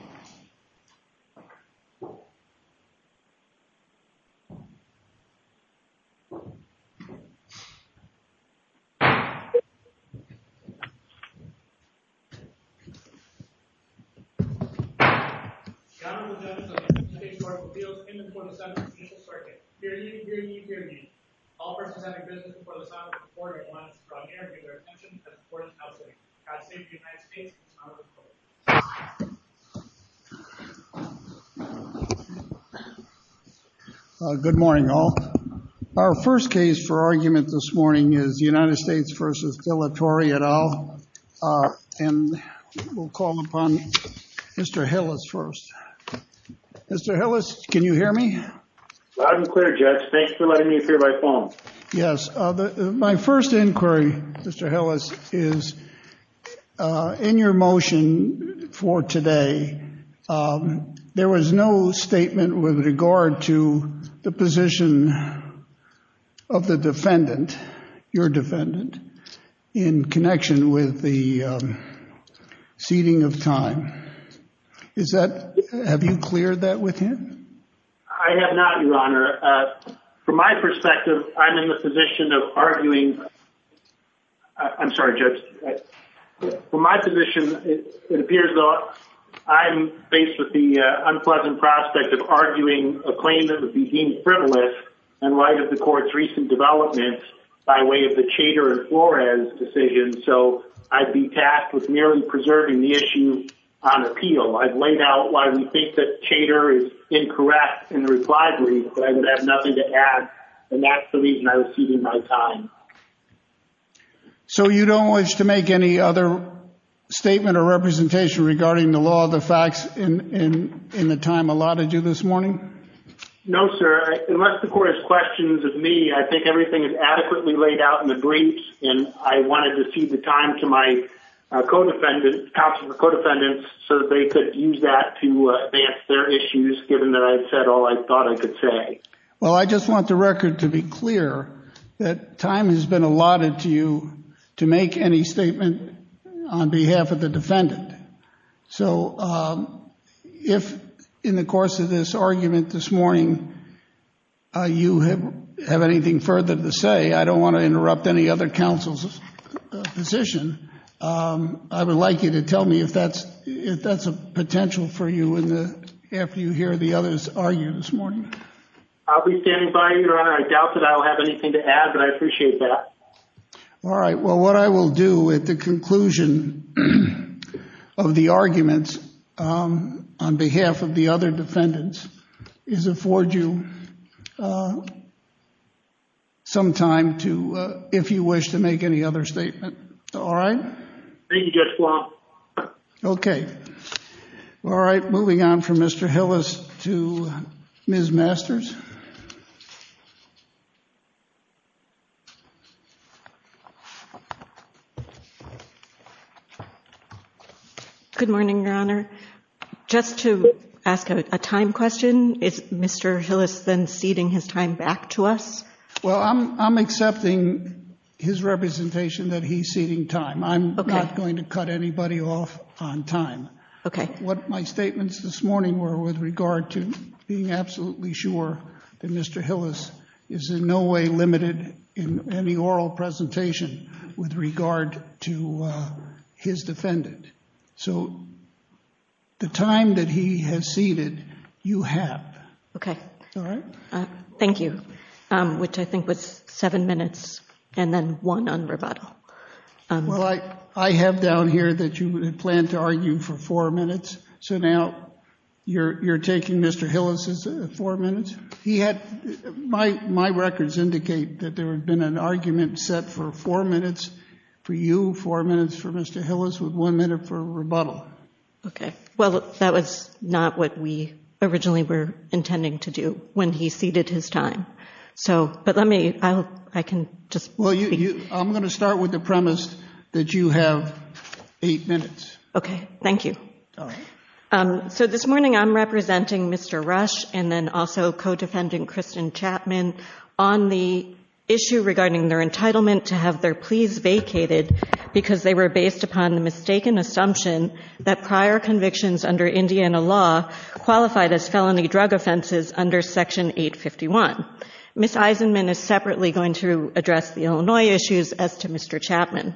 The General Assembly of the United States of America appeals in the 4th and 7th constitutional circuit. Hear ye, hear ye, hear ye! All persons having business in the 4th and 7th constitutional circuit are required to Good morning all. Our first case for argument this morning is United States v. De La Torre et al. And we'll call upon Mr. Hillis first. Mr. Hillis, can you hear me? Loud and clear, Judge. Thank you for letting me appear by phone. Yes, my first inquiry, Mr. Hillis, is in your motion for today, there was no statement with regard to the position of the defendant, your defendant, in connection with the seating of time. Is that, have you cleared that with him? Thank you, Your Honor. From my perspective, I'm in the position of arguing I'm sorry, Judge. From my position, it appears that I'm faced with the unpleasant prospect of arguing a claim that would be deemed frivolous in light of the court's recent development by way of the Chater and Flores decision, so I'd be tasked with merely preserving the issue on appeal. I've laid out why we think that Chater is incorrect in the reply brief, but I would have nothing to add, and that's the reason I was seating my time. So you don't wish to make any other statement or representation regarding the law of the facts in the time allotted to you this morning? No, sir. Unless the court has questions of me, I think everything is adequately laid out in the briefs. And I wanted to seat the time to my counsel for co-defendants so that they could use that to advance their issues, given that I've said all I thought I could say. Well, I just want the record to be clear that time has been allotted to you to make any statement on behalf of the defendant. So if in the course of this argument this morning you have anything further to say, I don't want to interrupt any other counsel's position. I would like you to tell me if that's a potential for you after you hear the others argue this morning. I'll be standing by, Your Honor. I doubt that I'll have anything to add, but I appreciate that. All right. Well, what I will do at the conclusion of the arguments on behalf of the other defendants is afford you some time if you wish to make any other statement. All right? Thank you, Judge Blum. Okay. All right. Moving on from Mr. Hillis to Ms. Masters. Good morning, Your Honor. Just to ask a time question, is Mr. Hillis then seating his time back to us? Well, I'm accepting his representation that he's seating time. I'm not going to cut anybody off on time. Okay. What my statements this morning were with regard to being absolutely sure that Mr. Hillis is in no way limited in any oral presentation with regard to his defendant. So the time that he has seated, you have. Okay. All right? Thank you, which I think was seven minutes and then one on rebuttal. Well, I have down here that you had planned to argue for four minutes. So now you're taking Mr. Hillis's four minutes? He had my records indicate that there had been an argument set for four minutes for you, four minutes for Mr. Hillis, with one minute for rebuttal. Okay. Well, that was not what we originally were intending to do when he seated his time. So, but let me, I can just speak. I'm going to start with the premise that you have eight minutes. Okay. Thank you. All right. So this morning I'm representing Mr. Rush and then also co-defendant Kristen Chapman on the issue regarding their entitlement to have their pleas vacated because they were based upon the mistaken assumption that prior convictions under Indiana law qualified as felony drug offenses under Section 851. Ms. Eisenman is separately going to address the Illinois issues as to Mr. Chapman.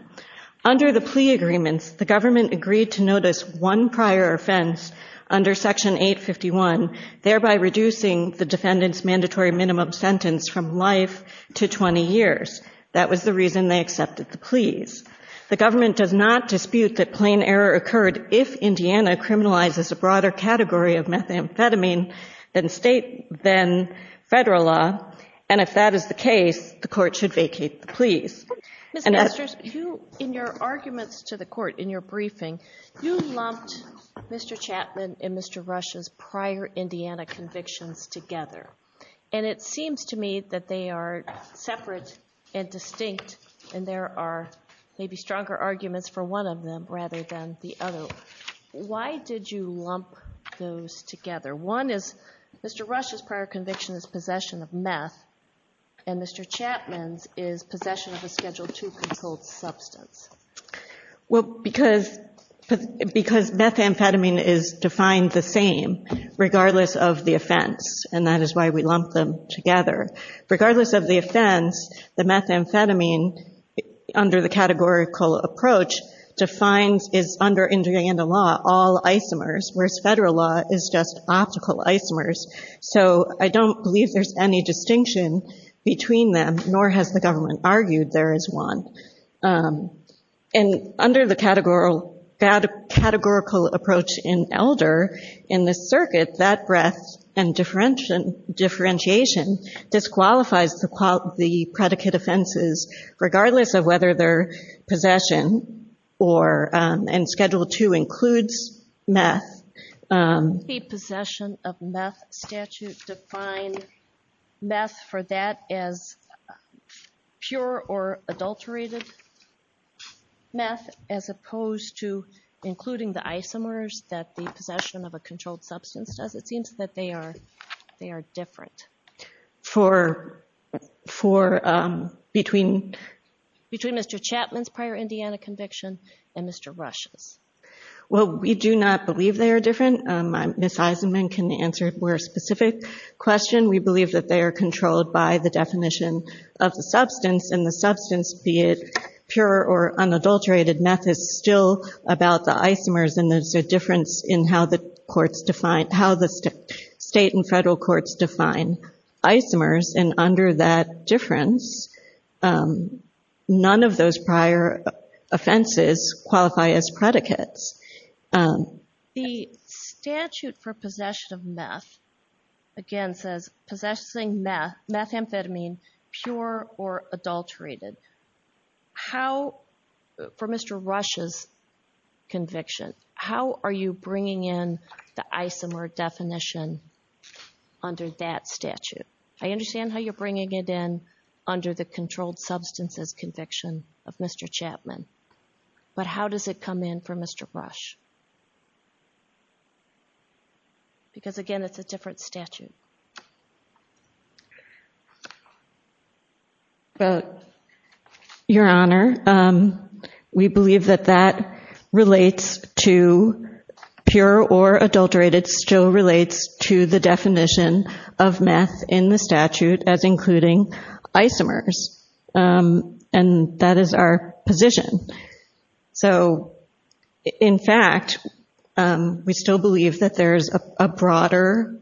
Under the plea agreements, the government agreed to notice one prior offense under Section 851, thereby reducing the defendant's mandatory minimum sentence from life to 20 years. That was the reason they accepted the pleas. The government does not dispute that plain error occurred if Indiana criminalizes a broader category of methamphetamine than state, than federal law. And if that is the case, the court should vacate the pleas. Ms. Masters, you, in your arguments to the court, in your briefing, you lumped Mr. Chapman and Mr. Rush's prior Indiana convictions together. And it seems to me that they are separate and distinct and there are maybe stronger arguments for one of them rather than the other. Why did you lump those together? One is Mr. Rush's prior conviction is possession of meth and Mr. Chapman's is possession of a Schedule II controlled substance. Well, because methamphetamine is defined the same, regardless of the offense, and that is why we lumped them together. Regardless of the offense, the methamphetamine, under the categorical approach, defines, is under Indiana law, all isomers, whereas federal law is just optical isomers. So I don't believe there's any distinction between them, nor has the government argued there is one. And under the categorical approach in Elder, in the circuit, that breadth and differentiation disqualifies the predicate offenses, regardless of whether they're possession or, and Schedule II includes meth. Does the possession of meth statute define meth for that as pure or adulterated meth, as opposed to including the isomers that the possession of a controlled substance does? It seems that they are different between Mr. Chapman's prior Indiana conviction and Mr. Rush's. Well, we do not believe they are different. Ms. Eisenman can answer a more specific question. We believe that they are controlled by the definition of the substance, and the substance, be it pure or unadulterated meth, is still about the isomers, and there's a difference in how the courts define, how the state and federal courts define isomers. And under that difference, none of those prior offenses qualify as predicates. The statute for possession of meth, again, says possessing meth, methamphetamine, pure or adulterated. How, for Mr. Rush's conviction, how are you bringing in the isomer definition under that statute? I understand how you're bringing it in under the controlled substances conviction of Mr. Chapman, but how does it come in for Mr. Rush? Because, again, it's a different statute. Your Honor, we believe that that relates to pure or adulterated still relates to the definition of meth in the statute as including isomers, and that is our position. So, in fact, we still believe that there's a broader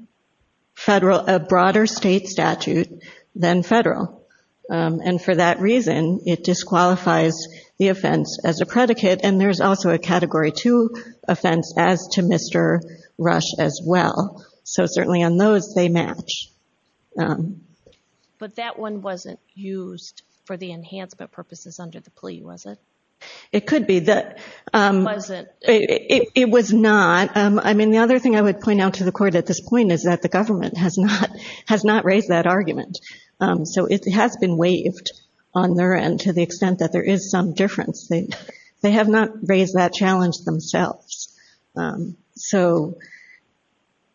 federal, a broader state statute than federal, and for that reason it disqualifies the offense as a predicate, and there's also a Category 2 offense as to Mr. Rush as well, so certainly on those they match. But that one wasn't used for the enhancement purposes under the plea, was it? It could be. It wasn't? It was not. I mean, the other thing I would point out to the Court at this point is that the government has not raised that argument. So it has been waived on their end to the extent that there is some difference. They have not raised that challenge themselves. So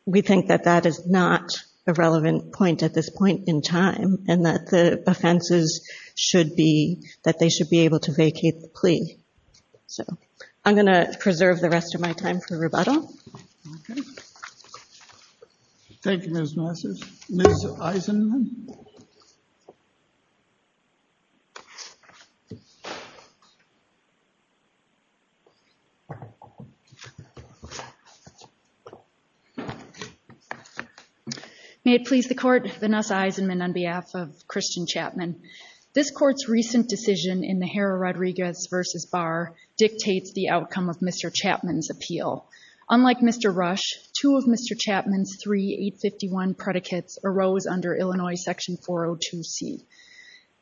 we think that that is not a relevant point at this point in time and that the offenses should be that they should be able to vacate the plea. So I'm going to preserve the rest of my time for rebuttal. Okay. May it please the Court. Vanessa Eisenman on behalf of Christian Chapman. This Court's recent decision in the Jara-Rodriguez v. Barr dictates the outcome of Mr. Chapman's appeal. Unlike Mr. Rush, two of Mr. Chapman's three 851 predicates arose under Illinois Section 402C.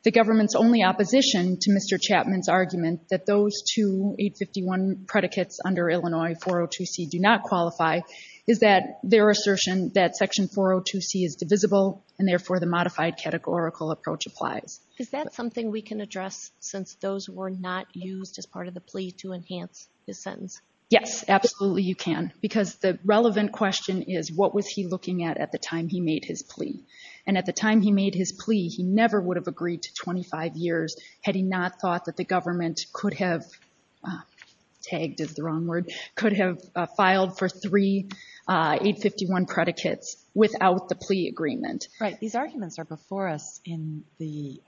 The government's only opposition to Mr. Chapman's argument that those two 851 predicates under Illinois 402C do not qualify is that their assertion that Section 402C is divisible and therefore the modified categorical approach applies. Is that something we can address since those were not used as part of the plea to enhance his sentence? Yes, absolutely you can because the relevant question is what was he looking at at the time he made his plea? And at the time he made his plea, he never would have agreed to 25 years had he not thought that the government could have filed for three 851 predicates without the plea agreement. Right. These arguments are before us in the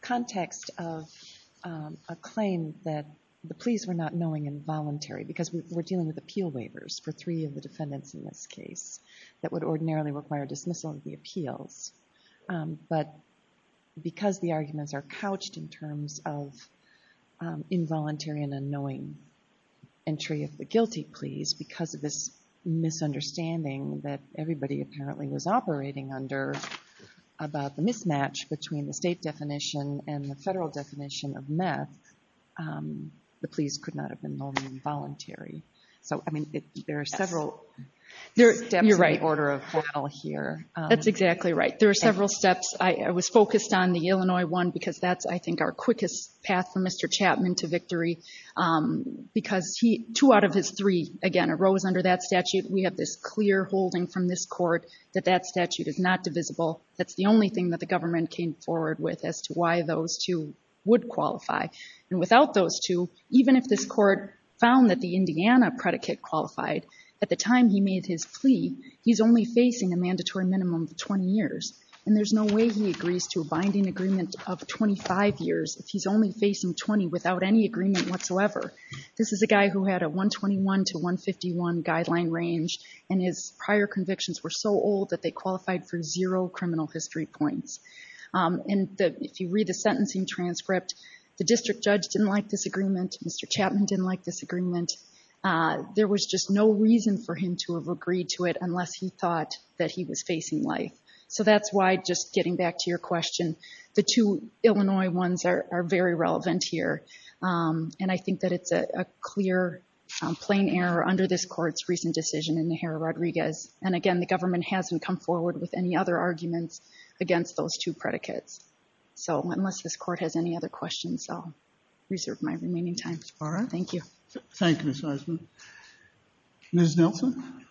context of a claim that the pleas were not knowing and voluntary because we're dealing with appeal waivers for three of the defendants in this case that would ordinarily require dismissal of the appeals. But because the arguments are couched in terms of involuntary and unknowing entry of the guilty pleas, because of this misunderstanding that everybody apparently was operating under about the mismatch between the state definition and the federal definition of meth, the pleas could not have been known involuntary. So, I mean, there are several steps in the order of file here. That's exactly right. There are several steps. I was focused on the Illinois one because that's, I think, our quickest path for Mr. Chapman to victory because two out of his three, again, arose under that statute. We have this clear holding from this court that that statute is not divisible. That's the only thing that the government came forward with as to why those two would qualify. And without those two, even if this court found that the Indiana predicate qualified, at the time he made his plea, he's only facing a mandatory minimum of 20 years. And there's no way he agrees to a binding agreement of 25 years if he's only facing 20 without any agreement whatsoever. This is a guy who had a 121 to 151 guideline range, and his prior convictions were so old that they qualified for zero criminal history points. And if you read the sentencing transcript, the district judge didn't like this agreement. There was just no reason for him to have agreed to it unless he thought that he was facing life. So that's why, just getting back to your question, the two Illinois ones are very relevant here. And I think that it's a clear, plain error under this court's recent decision in Najera-Rodriguez. And again, the government hasn't come forward with any other arguments against those two predicates. So unless this court has any other questions, I'll reserve my remaining time. All right. Thank you. Thank you, Ms. Eisman. Ms. Nelson?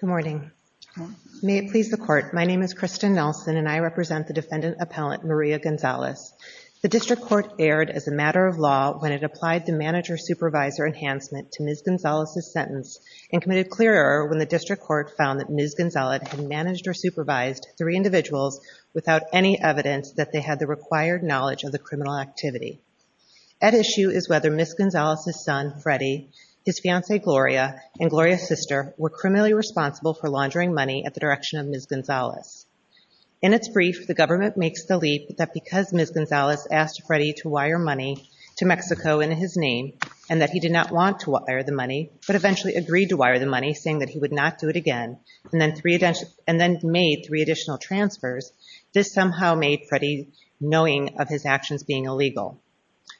Good morning. May it please the court, my name is Kristen Nelson, and I represent the defendant appellant Maria Gonzalez. The district court erred as a matter of law when it applied the manager-supervisor enhancement to Ms. Gonzalez's sentence and committed clear error when the district court found that Ms. Gonzalez had managed or supervised three individuals without any evidence that they had the required knowledge of the criminal activity. At issue is whether Ms. Gonzalez's son, Freddy, his fiancée, Gloria, and Gloria's sister were criminally responsible for laundering money at the direction of Ms. Gonzalez. In its brief, the government makes the leap that because Ms. Gonzalez asked Freddy to wire money to Mexico in his name and that he did not want to wire the money, but eventually agreed to wire the money saying that he would not do it again and then made three additional transfers, this somehow made Freddy knowing of his actions being illegal.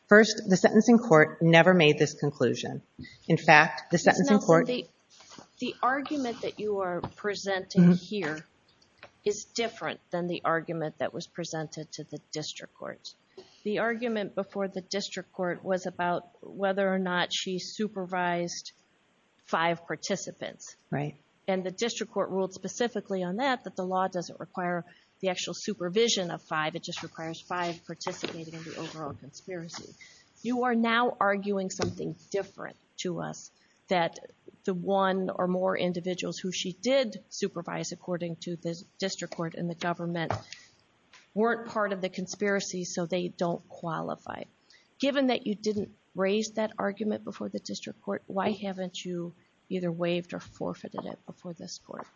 First, the sentencing court never made this conclusion. In fact, the sentencing court... Ms. Nelson, the argument that you are presenting here is different than the argument that was presented to the district court. The argument before the district court was about whether or not she supervised five participants. Right. And the district court ruled specifically on that, that the law doesn't require the actual supervision of five, it just requires five participating in the overall conspiracy. You are now arguing something different to us, that the one or more individuals who she did supervise according to the district court and the government weren't part of the conspiracy so they don't qualify. Given that you didn't raise that argument before the district court, why haven't you either waived or forfeited it before this court?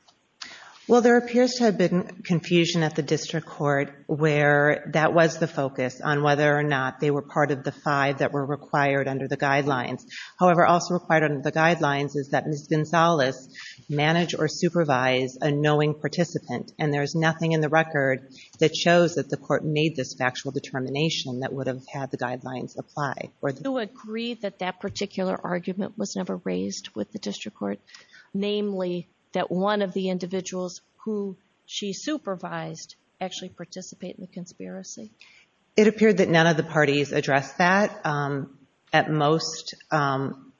Well, there appears to have been confusion at the district court where that was the focus on whether or not they were part of the five that were required under the guidelines. However, also required under the guidelines is that Ms. Gonzalez managed or supervised a knowing participant and there is nothing in the record that shows that the court made this factual determination that would have had the guidelines apply. Do you agree that that particular argument was never raised with the district court, namely that one of the individuals who she supervised actually participated in the conspiracy? It appeared that none of the parties addressed that, at most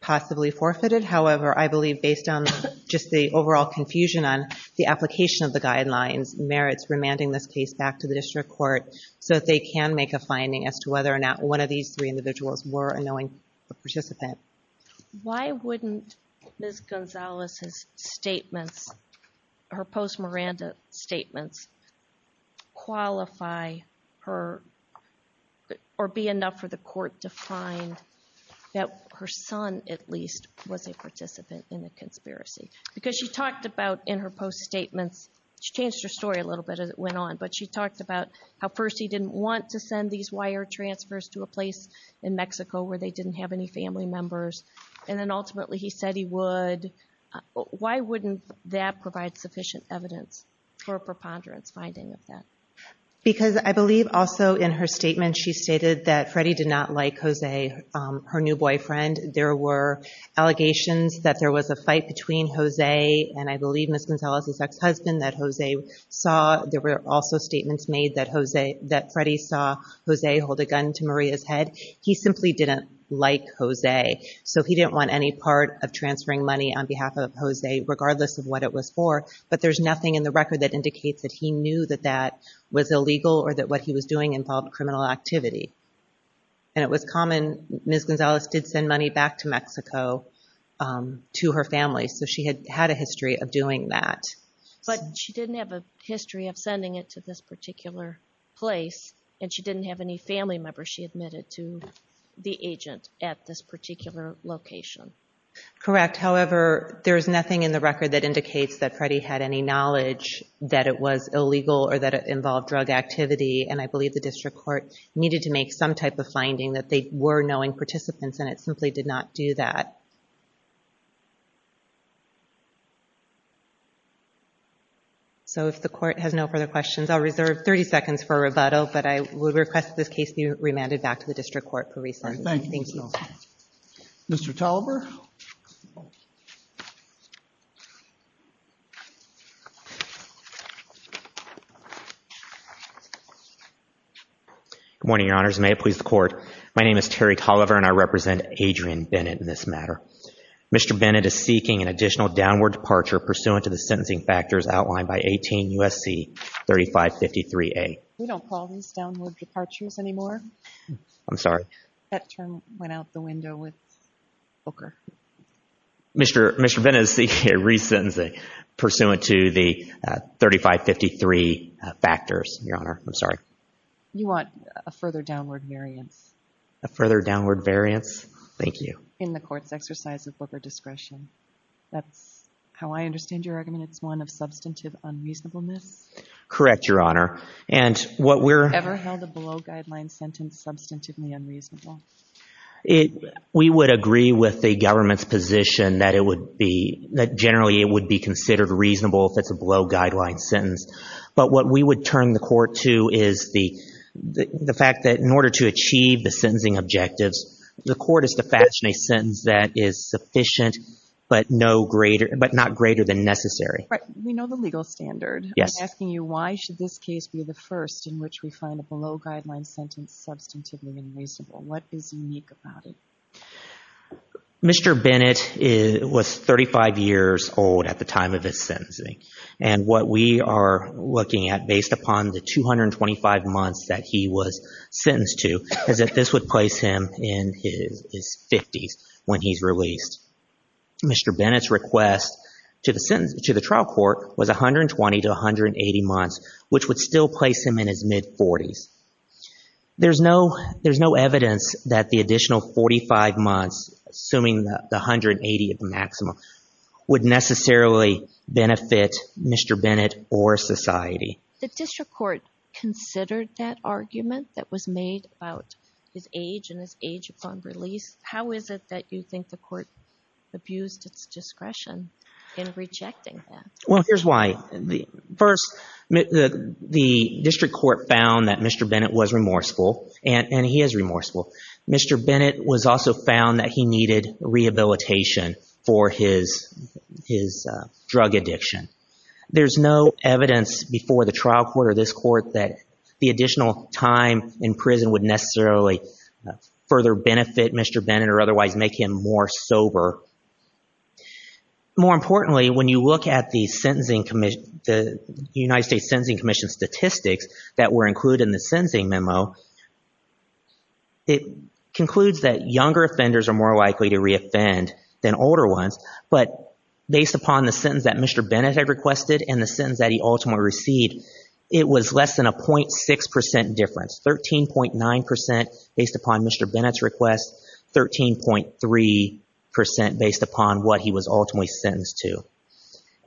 possibly forfeited. However, I believe based on just the overall confusion on the application of the guidelines, merits remanding this case back to the district court so that they can make a finding as to whether or not one of these three individuals were a knowing participant. Why wouldn't Ms. Gonzalez's statements, her post-Miranda statements, qualify or be enough for the court to find that her son, at least, was a participant in the conspiracy? Because she talked about in her post-statements, she changed her story a little bit as it went on, but she talked about how first he didn't want to send these wire transfers to a place in Mexico where they didn't have any family members, and then ultimately he said he would. Why wouldn't that provide sufficient evidence for a preponderance finding of that? Because I believe also in her statement, she stated that Freddie did not like Jose, her new boyfriend. There were allegations that there was a fight between Jose and, I believe, Ms. Gonzalez's ex-husband, that Jose saw. There were also statements made that Freddie saw Jose hold a gun to Maria's head. He simply didn't like Jose, so he didn't want any part of transferring money on behalf of Jose, regardless of what it was for. But there's nothing in the record that indicates that he knew that that was illegal or that what he was doing involved criminal activity. And it was common. Ms. Gonzalez did send money back to Mexico to her family, so she had had a history of doing that. But she didn't have a history of sending it to this particular place, and she didn't have any family members she admitted to the agent at this particular location. Correct. However, there's nothing in the record that indicates that Freddie had any knowledge that it was illegal or that it involved drug activity, and I believe the district court needed to make some type of finding that they were knowing participants, and it simply did not do that. So if the court has no further questions, I'll reserve 30 seconds for a rebuttal, but I would request that this case be remanded back to the district court for recess. Thank you. Mr. Tolliver. Good morning, Your Honors, and may it please the Court. My name is Terry Tolliver, and I represent Adrian Bennett in this matter. Mr. Bennett is seeking an additional downward departure pursuant to the sentencing factors outlined by 18 U.S.C. 3553A. We don't call these downward departures anymore. I'm sorry. That term went out the window with Booker. Mr. Bennett is seeking a re-sentencing pursuant to the 3553 factors, Your Honor. I'm sorry. You want a further downward variance. A further downward variance? Thank you. In the court's exercise of Booker discretion. That's how I understand your argument. It's one of substantive unreasonableness? Correct, Your Honor. And what we're... Ever held a below-guideline sentence substantively unreasonable? We would agree with the government's position that it would be, that generally it would be considered reasonable if it's a below-guideline sentence. But what we would turn the court to is the fact that in order to achieve the sentencing objectives, the court is to fashion a sentence that is sufficient but not greater than necessary. We know the legal standard. Yes. I'm asking you why should this case be the first in which we find a below-guideline sentence substantively unreasonable? What is unique about it? Mr. Bennett was 35 years old at the time of his sentencing. And what we are looking at based upon the 225 months that he was sentenced to is that this would place him in his 50s when he's released. Mr. Bennett's request to the trial court was 120 to 180 months, which would still place him in his mid-40s. There's no evidence that the additional 45 months, assuming the 180 at the maximum, would necessarily benefit Mr. Bennett or society. The district court considered that argument that was made about his age and his age upon release. How is it that you think the court abused its discretion in rejecting that? Well, here's why. First, the district court found that Mr. Bennett was remorseful, and he is remorseful. Mr. Bennett was also found that he needed rehabilitation for his drug addiction. There's no evidence before the trial court or this court that the additional time in prison would necessarily further benefit Mr. Bennett or otherwise make him more sober. More importantly, when you look at the United States Sentencing Commission statistics that were included in the sentencing memo, it concludes that younger offenders are more likely to reoffend than older ones. But based upon the sentence that Mr. Bennett had requested and the sentence that he ultimately received, it was less than a 0.6% difference, 13.9% based upon Mr. Bennett's request, 13.3% based upon what he was ultimately sentenced to.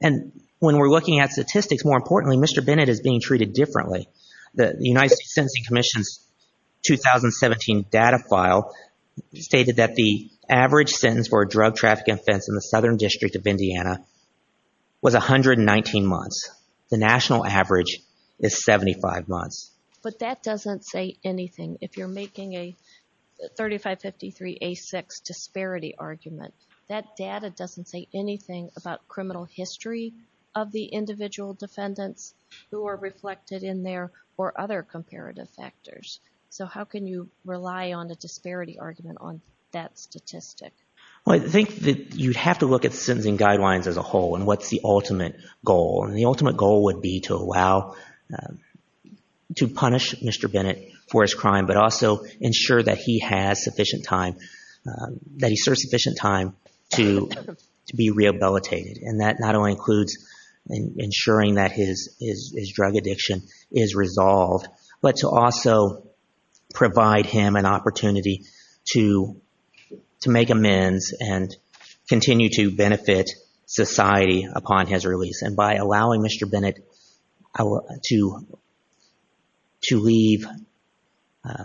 And when we're looking at statistics, more importantly, Mr. Bennett is being treated differently. The United States Sentencing Commission's 2017 data file stated that the average sentence for a drug trafficking offense in the Southern District of Indiana was 119 months. The national average is 75 months. But that doesn't say anything. If you're making a 3553A6 disparity argument, that data doesn't say anything about criminal history of the individual defendants who are reflected in there or other comparative factors. So how can you rely on a disparity argument on that statistic? Well, I think that you'd have to look at sentencing guidelines as a whole and what's the ultimate goal. And the ultimate goal would be to allow, to punish Mr. Bennett for his crime, but also ensure that he has sufficient time, that he serves sufficient time to be rehabilitated. And that not only includes ensuring that his drug addiction is resolved, but to also provide him an opportunity to make amends and continue to benefit society upon his release. And by allowing Mr. Bennett to leave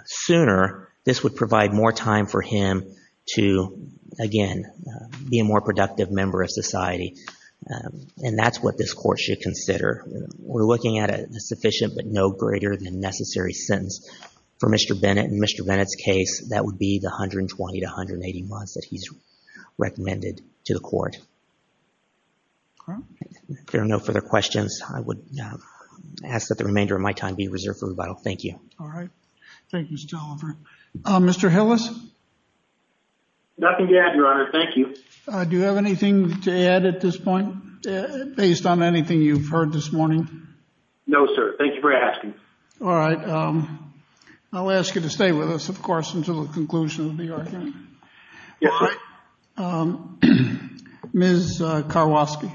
sooner, this would provide more time for him to, again, be a more productive member of society. And that's what this court should consider. We're looking at a sufficient but no greater than necessary sentence for Mr. Bennett. In Mr. Bennett's case, that would be the 120 to 180 months that he's recommended to the court. If there are no further questions, I would ask that the remainder of my time be reserved for rebuttal. Thank you. All right. Thank you, Mr. Oliver. Mr. Hillis? Nothing to add, Your Honor. Thank you. Do you have anything to add at this point based on anything you've heard this morning? No, sir. Thank you for asking. All right. I'll ask you to stay with us, of course, until the conclusion of the argument. Yes, Your Honor. Ms. Karwosky?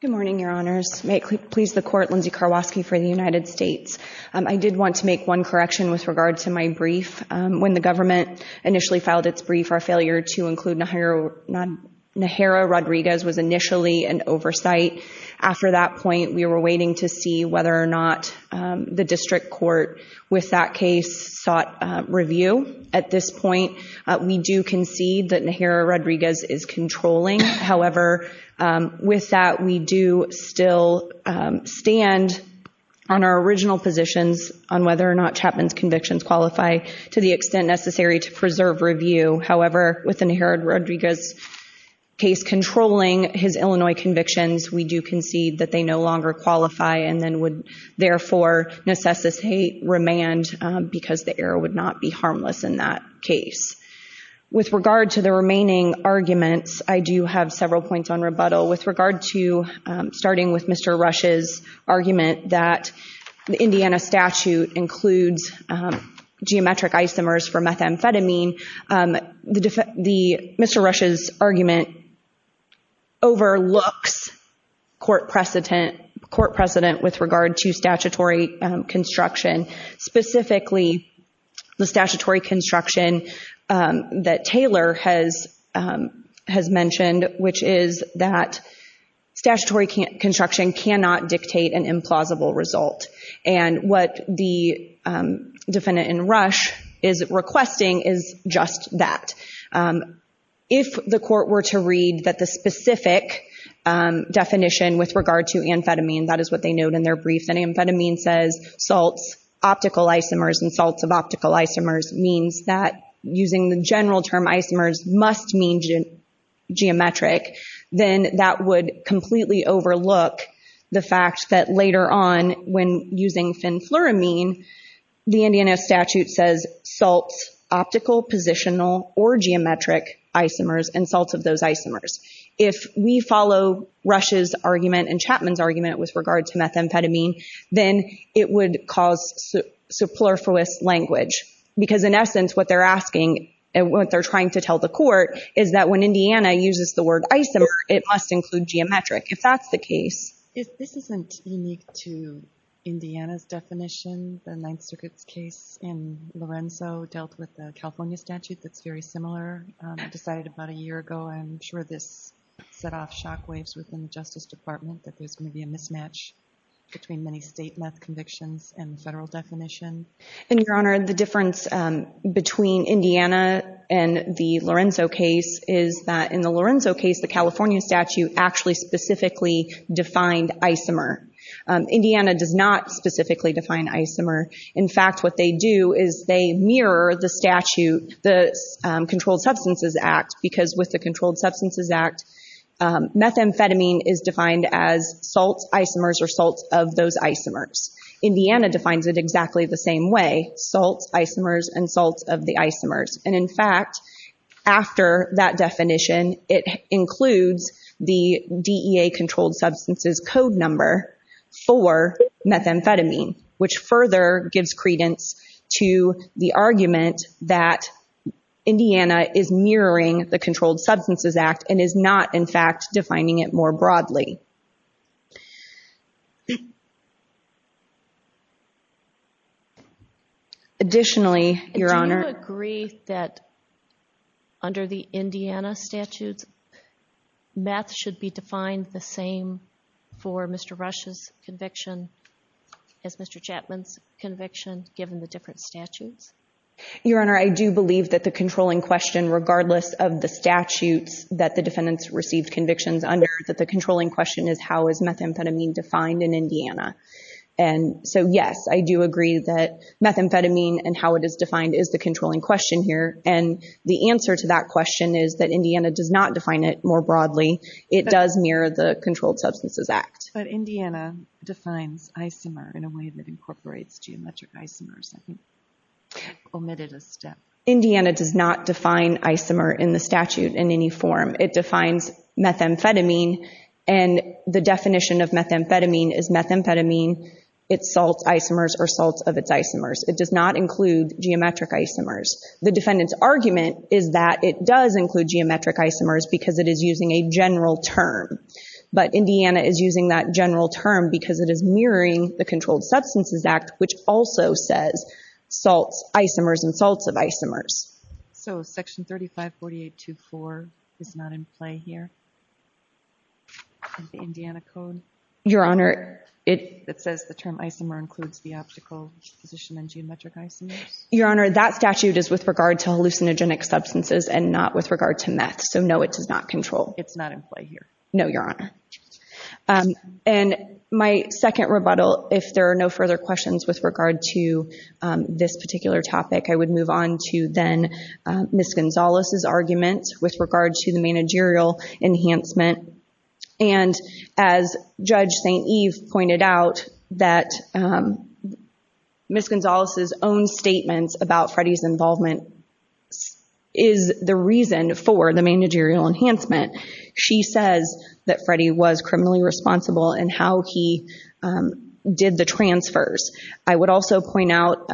Good morning, Your Honors. May it please the Court, Lindsay Karwosky for the United States. I did want to make one correction with regard to my brief. When the government initially filed its brief, our failure to include Najera Rodriguez was initially an oversight. After that point, we were waiting to see whether or not the district court with that case sought review. At this point, we do concede that Najera Rodriguez is controlling. However, with that, we do still stand on our original positions on whether or not Chapman's convictions qualify to the extent necessary to preserve review. However, with Najera Rodriguez's case controlling his Illinois convictions, we do concede that they no longer qualify and then would, therefore, necessitate remand because the error would not be harmless in that case. With regard to the remaining arguments, I do have several points on rebuttal. With regard to starting with Mr. Rush's argument that the Indiana statute includes geometric isomers for methamphetamine, Mr. Rush's argument overlooks court precedent with regard to statutory construction. Specifically, the statutory construction that Taylor has mentioned, which is that statutory construction cannot dictate an implausible result. And what the defendant in Rush is requesting is just that. If the court were to read that the specific definition with regard to amphetamine, that is what they note in their brief, that amphetamine says salts, optical isomers, and salts of optical isomers means that using the general term isomers must mean geometric, then that would completely overlook the fact that later on when using fenfluramine, the Indiana statute says salts, optical, positional, or geometric isomers and salts of those isomers. If we follow Rush's argument and Chapman's argument with regard to methamphetamine, then it would cause superfluous language. Because in essence, what they're asking and what they're trying to tell the court is that when Indiana uses the word isomer, it must include geometric, if that's the case. This isn't unique to Indiana's definition, the Ninth Circuit's case in Lorenzo dealt with a California statute that's very similar, decided about a year ago. I'm sure this set off shockwaves within the Justice Department that there's going to be a mismatch between many state meth convictions and federal definition. Your Honor, the difference between Indiana and the Lorenzo case is that in the Lorenzo case, the California statute actually specifically defined isomer. Indiana does not specifically define isomer. In fact, what they do is they mirror the statute, the Controlled Substances Act, because with the Controlled Substances Act, methamphetamine is defined as salts, isomers, or salts of those isomers. Indiana defines it exactly the same way, salts, isomers, and salts of the isomers. And in fact, after that definition, it includes the DEA Controlled Substances Code number for methamphetamine, which further gives credence to the argument that Indiana is mirroring the Controlled Substances Act and is not, in fact, defining it more broadly. Additionally, Your Honor. Do you agree that under the Indiana statutes, meth should be defined the same for Mr. Rush's conviction as Mr. Chapman's conviction, given the different statutes? Your Honor, I do believe that the controlling question, regardless of the statutes that the defendants received convictions under, that the controlling question is how is methamphetamine defined in Indiana. And so, yes, I do agree that methamphetamine and how it is defined is the controlling question here. And the answer to that question is that Indiana does not define it more broadly. It does mirror the Controlled Substances Act. But Indiana defines isomer in a way that incorporates geometric isomers. I think I omitted a step. Indiana does not define isomer in the statute in any form. It defines methamphetamine, and the definition of methamphetamine is methamphetamine, its salts, isomers, or salts of its isomers. It does not include geometric isomers. The defendant's argument is that it does include geometric isomers because it is using a general term. But Indiana is using that general term because it is mirroring the Controlled Substances Act, which also says salts, isomers, and salts of isomers. So Section 3548.24 is not in play here in the Indiana Code? Your Honor, it... That says the term isomer includes the optical position and geometric isomers? Your Honor, that statute is with regard to hallucinogenic substances and not with regard to meth, so no, it does not control. It's not in play here? No, Your Honor. And my second rebuttal, if there are no further questions with regard to this particular topic, I would move on to then Ms. Gonzalez's argument with regard to the managerial enhancement. And as Judge St. Eve pointed out, that Ms. Gonzalez's own statements about Freddie's involvement is the reason for the managerial enhancement. She says that Freddie was criminally responsible in how he did the transfers. I would also point out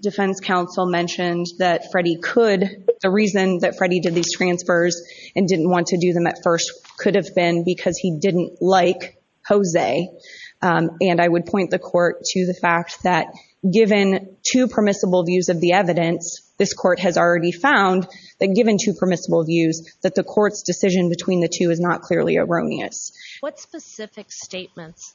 defense counsel mentioned that Freddie could, the reason that Freddie did these transfers and didn't want to do them at first could have been because he didn't like Jose. And I would point the court to the fact that given two permissible views of the evidence, this court has already found that given two permissible views, that the court's decision between the two is not clearly erroneous. What specific statements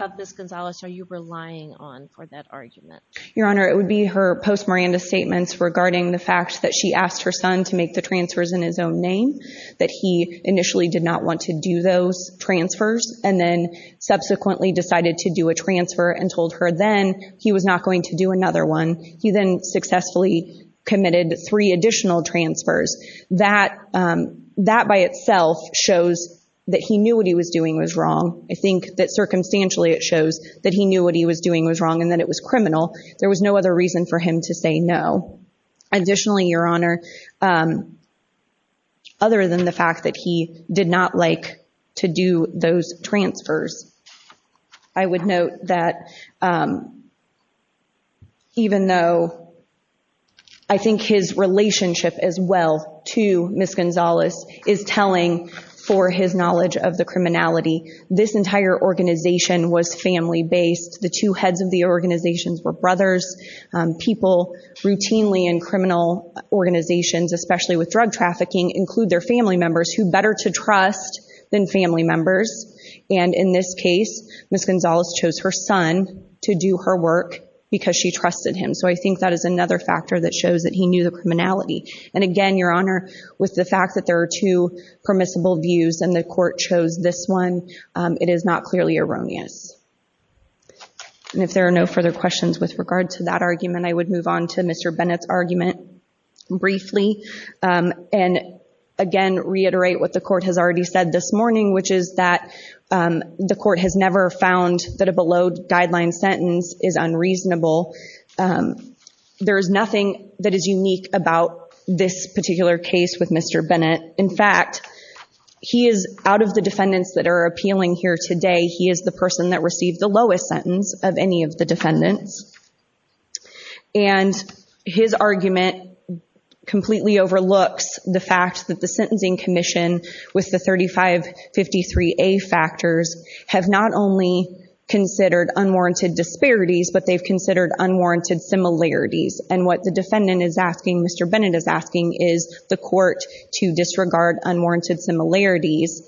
of Ms. Gonzalez are you relying on for that argument? Your Honor, it would be her post-Miranda statements regarding the fact that she asked her son to make the transfers in his own name, that he initially did not want to do those transfers, and then subsequently decided to do a transfer and told her then he was not going to do another one. He then successfully committed three additional transfers. That by itself shows that he knew what he was doing was wrong. I think that circumstantially it shows that he knew what he was doing was wrong and that it was criminal. There was no other reason for him to say no. Additionally, Your Honor, other than the fact that he did not like to do those transfers, I would note that even though I think his relationship as well to Ms. Gonzalez is telling for his knowledge of the criminality, this entire organization was family-based. The two heads of the organizations were brothers. People routinely in criminal organizations, especially with drug trafficking, include their family members who are better to trust than family members. And in this case, Ms. Gonzalez chose her son to do her work because she trusted him. So I think that is another factor that shows that he knew the criminality. And again, Your Honor, with the fact that there are two permissible views and the court chose this one, it is not clearly erroneous. And if there are no further questions with regard to that argument, I would move on to Mr. Bennett's argument briefly and again reiterate what the court has already said this morning, which is that the court has never found that a below-guideline sentence is unreasonable. There is nothing that is unique about this particular case with Mr. Bennett. In fact, he is, out of the defendants that are appealing here today, he is the person that received the lowest sentence of any of the defendants. And his argument completely overlooks the fact that the Sentencing Commission, with the 3553A factors, have not only considered unwarranted disparities, but they've considered unwarranted similarities. And what the defendant is asking, Mr. Bennett is asking, is the court to disregard unwarranted similarities.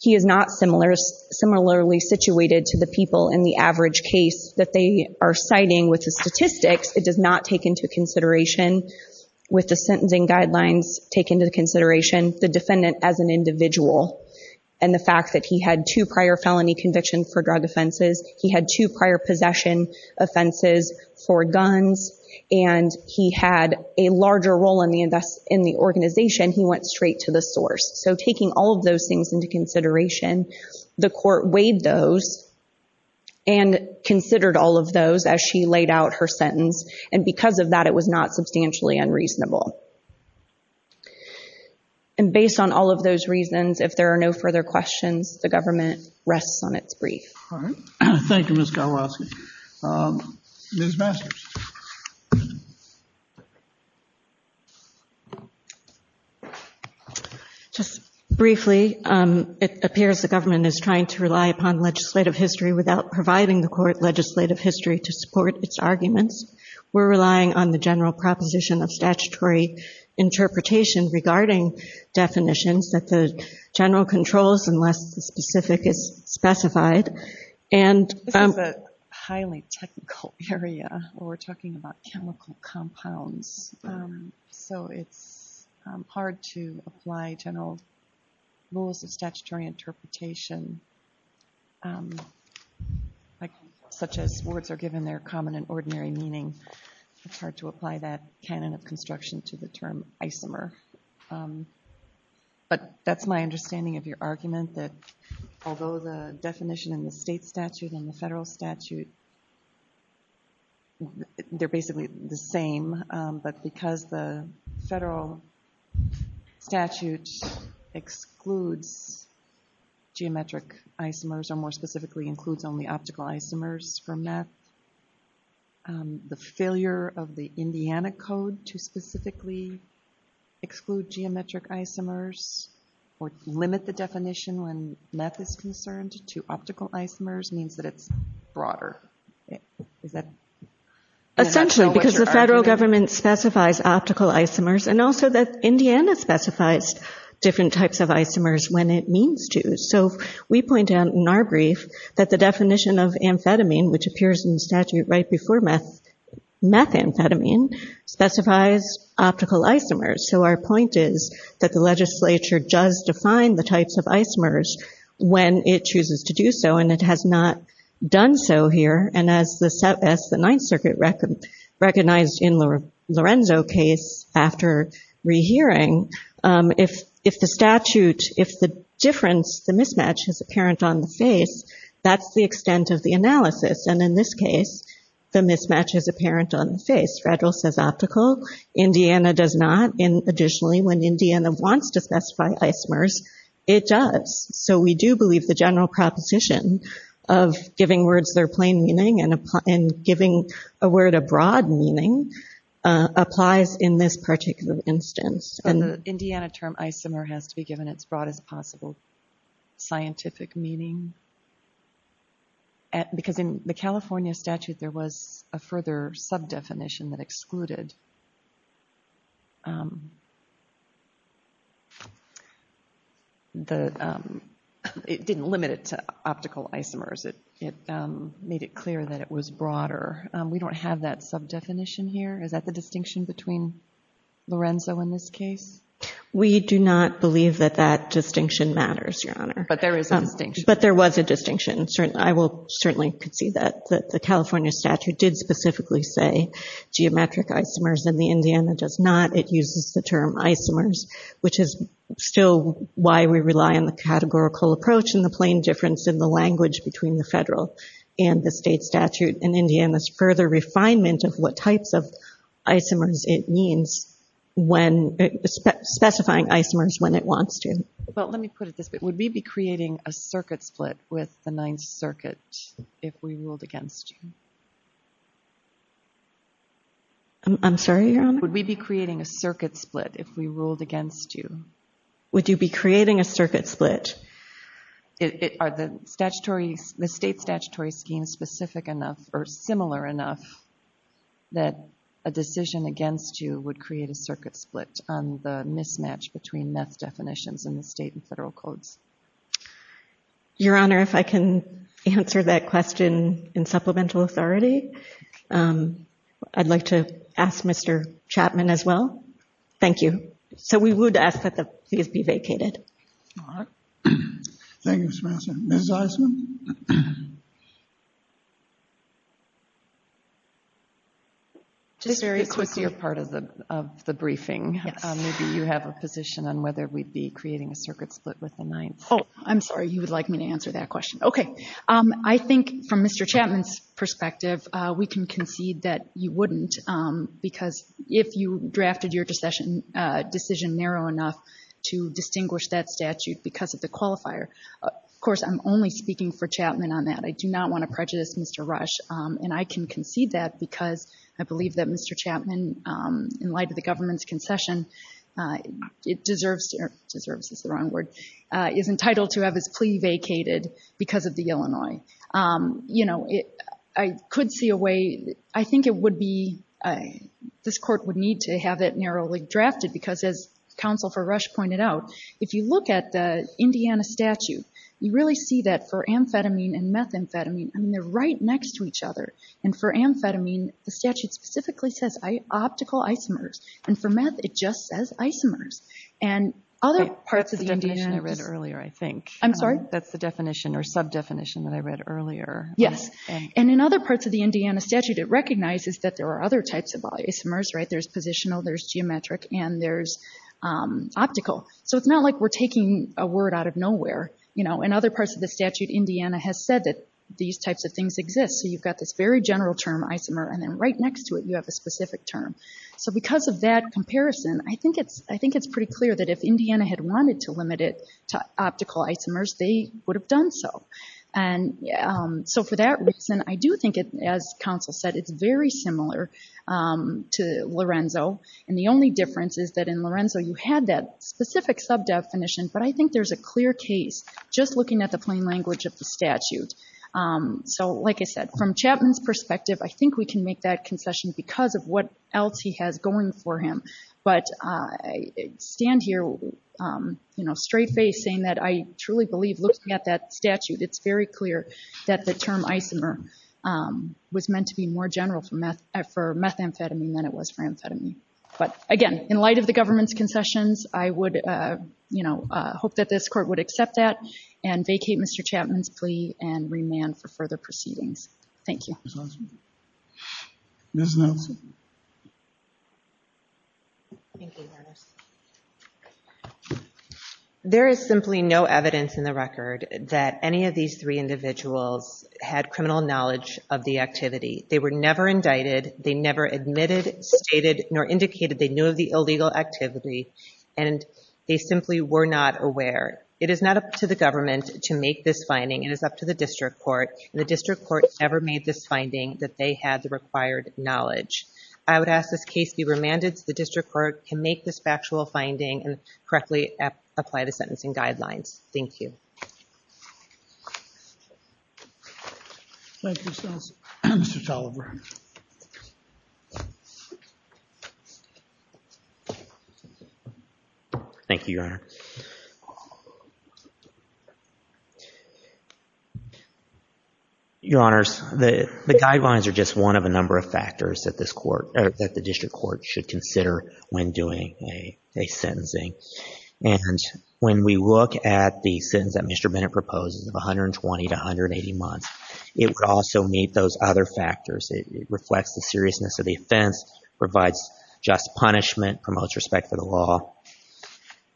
He is not similarly situated to the people in the average case that they are citing with the statistics. It does not take into consideration, with the sentencing guidelines taken into consideration, the defendant as an individual and the fact that he had two prior felony convictions for drug offenses. He had two prior possession offenses for guns. And he had a larger role in the organization. He went straight to the source. So taking all of those things into consideration, the court weighed those and considered all of those as she laid out her sentence. And because of that, it was not substantially unreasonable. And based on all of those reasons, if there are no further questions, the government rests on its brief. Thank you, Ms. Galoisky. Ms. Masters. Just briefly, it appears the government is trying to rely upon legislative history without providing the court legislative history to support its arguments. We're relying on the general proposition of statutory interpretation regarding definitions that the general controls unless the specific is specified. This is a highly technical area where we're talking about chemical compounds. So it's hard to apply general rules of statutory interpretation such as words are given their common and ordinary meaning. It's hard to apply that canon of construction to the term isomer. But that's my understanding of your argument, that although the definition in the state statute and the federal statute, they're basically the same. But because the federal statute excludes geometric isomers, or more specifically includes only optical isomers from that, the failure of the Indiana Code to specifically exclude geometric isomers or limit the definition when meth is concerned to optical isomers means that it's broader. Is that? Essentially, because the federal government specifies optical isomers, and also that Indiana specifies different types of isomers when it means to. So we point out in our brief that the definition of amphetamine, which appears in the statute right before methamphetamine, specifies optical isomers. So our point is that the legislature does define the types of isomers when it chooses to do so, and it has not done so here. And as the Ninth Circuit recognized in the Lorenzo case after rehearing, if the statute, if the difference, the mismatch is apparent on the face, that's the extent of the analysis. And in this case, the mismatch is apparent on the face. Federal says optical. Indiana does not. Additionally, when Indiana wants to specify isomers, it does. So we do believe the general proposition of giving words their plain meaning and giving a word a broad meaning applies in this particular instance. And the Indiana term isomer has to be given its broadest possible scientific meaning. Because in the California statute, there was a further sub-definition that excluded. It didn't limit it to optical isomers. It made it clear that it was broader. We don't have that sub-definition here. Is that the distinction between Lorenzo and this case? We do not believe that that distinction matters, Your Honor. But there is a distinction. But there was a distinction. I will certainly concede that. The California statute did specifically say geometric isomers, and the Indiana does not. It uses the term isomers, which is still why we rely on the categorical approach and the plain difference in the language between the federal and the state statute. The state statute in Indiana is further refinement of what types of isomers it means, specifying isomers when it wants to. Well, let me put it this way. Would we be creating a circuit split with the Ninth Circuit if we ruled against you? I'm sorry, Your Honor? Would we be creating a circuit split if we ruled against you? Would you be creating a circuit split? Are the state statutory schemes specific enough or similar enough that a decision against you would create a circuit split on the mismatch between meth definitions in the state and federal codes? Your Honor, if I can answer that question in supplemental authority, I'd like to ask Mr. Chapman as well. Thank you. So we would ask that the pleas be vacated. All right. Thank you, Ms. Masson. Ms. Eisen? This was your part of the briefing. Maybe you have a position on whether we'd be creating a circuit split with the Ninth. Oh, I'm sorry. You would like me to answer that question? Okay. I think from Mr. Chapman's perspective, we can concede that you wouldn't because if you drafted your decision narrow enough to distinguish that statute because of the qualifier. Of course, I'm only speaking for Chapman on that. I do not want to prejudice Mr. Rush, and I can concede that because I believe that Mr. Chapman, in light of the government's concession, is entitled to have his plea vacated because of the Illinois. I could see a way. I think this court would need to have it narrowly drafted because, as Counsel for Rush pointed out, if you look at the Indiana statute, you really see that for amphetamine and methamphetamine, they're right next to each other. And for amphetamine, the statute specifically says optical isomers, and for meth it just says isomers. That's the definition I read earlier, I think. I'm sorry? That's the definition or sub-definition that I read earlier. Yes. And in other parts of the Indiana statute, it recognizes that there are other types of isomers, right? There's positional, there's geometric, and there's optical. So it's not like we're taking a word out of nowhere. In other parts of the statute, Indiana has said that these types of things exist. So you've got this very general term, isomer, and then right next to it you have a specific term. So because of that comparison, I think it's pretty clear that if Indiana had wanted to limit it to optical isomers, they would have done so. And so for that reason, I do think, as counsel said, it's very similar to Lorenzo. And the only difference is that in Lorenzo you had that specific sub-definition, but I think there's a clear case just looking at the plain language of the statute. So, like I said, from Chapman's perspective, I think we can make that concession because of what else he has going for him. But I stand here straight-faced saying that I truly believe, looking at that statute, it's very clear that the term isomer was meant to be more general for methamphetamine than it was for amphetamine. But, again, in light of the government's concessions, I would hope that this Court would accept that and vacate Mr. Chapman's plea and remand for further proceedings. Thank you. Ms. Nelson? There is simply no evidence in the record that any of these three individuals had criminal knowledge of the activity. They were never indicted. They never admitted, stated, nor indicated they knew of the illegal activity, and they simply were not aware. It is not up to the government to make this finding. It is up to the district court, and the district court never made this finding that they had the required knowledge. I would ask this case be remanded so the district court can make this factual finding and correctly apply the sentencing guidelines. Thank you. Thank you, Ms. Nelson. Mr. Toliver? Thank you, Your Honor. Your Honors, the guidelines are just one of a number of factors that this court, that the district court should consider when doing a sentencing. And when we look at the sentence that Mr. Bennett proposes of 120 to 180 months, it would also meet those other factors. It reflects the seriousness of the offense, provides just punishment, promotes respect for the law.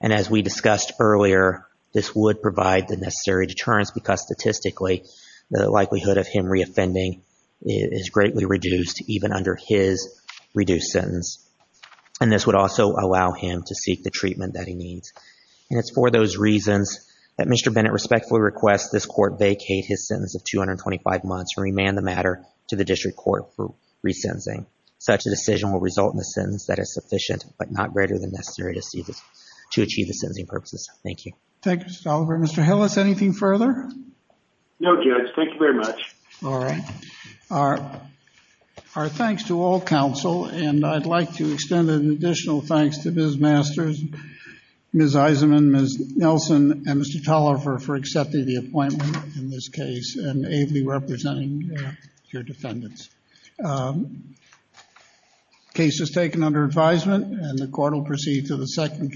And as we discussed earlier, this would provide the necessary deterrence because statistically the likelihood of him reoffending is greatly reduced, even under his reduced sentence. And this would also allow him to seek the treatment that he needs. And it's for those reasons that Mr. Bennett respectfully requests this court vacate his sentence of 225 months and remand the matter to the district court for re-sentencing. Such a decision will result in a sentence that is sufficient but not greater than necessary to achieve the sentencing purposes. Thank you. Thank you, Mr. Toliver. Mr. Hillis, anything further? No, Judge. Thank you very much. All right. Our thanks to all counsel. And I'd like to extend an additional thanks to Ms. Masters, Ms. Eisenman, Ms. Nelson, and Mr. Toliver for accepting the appointment in this case and ably representing your defendants. Case is taken under advisement and the court will proceed to the second case.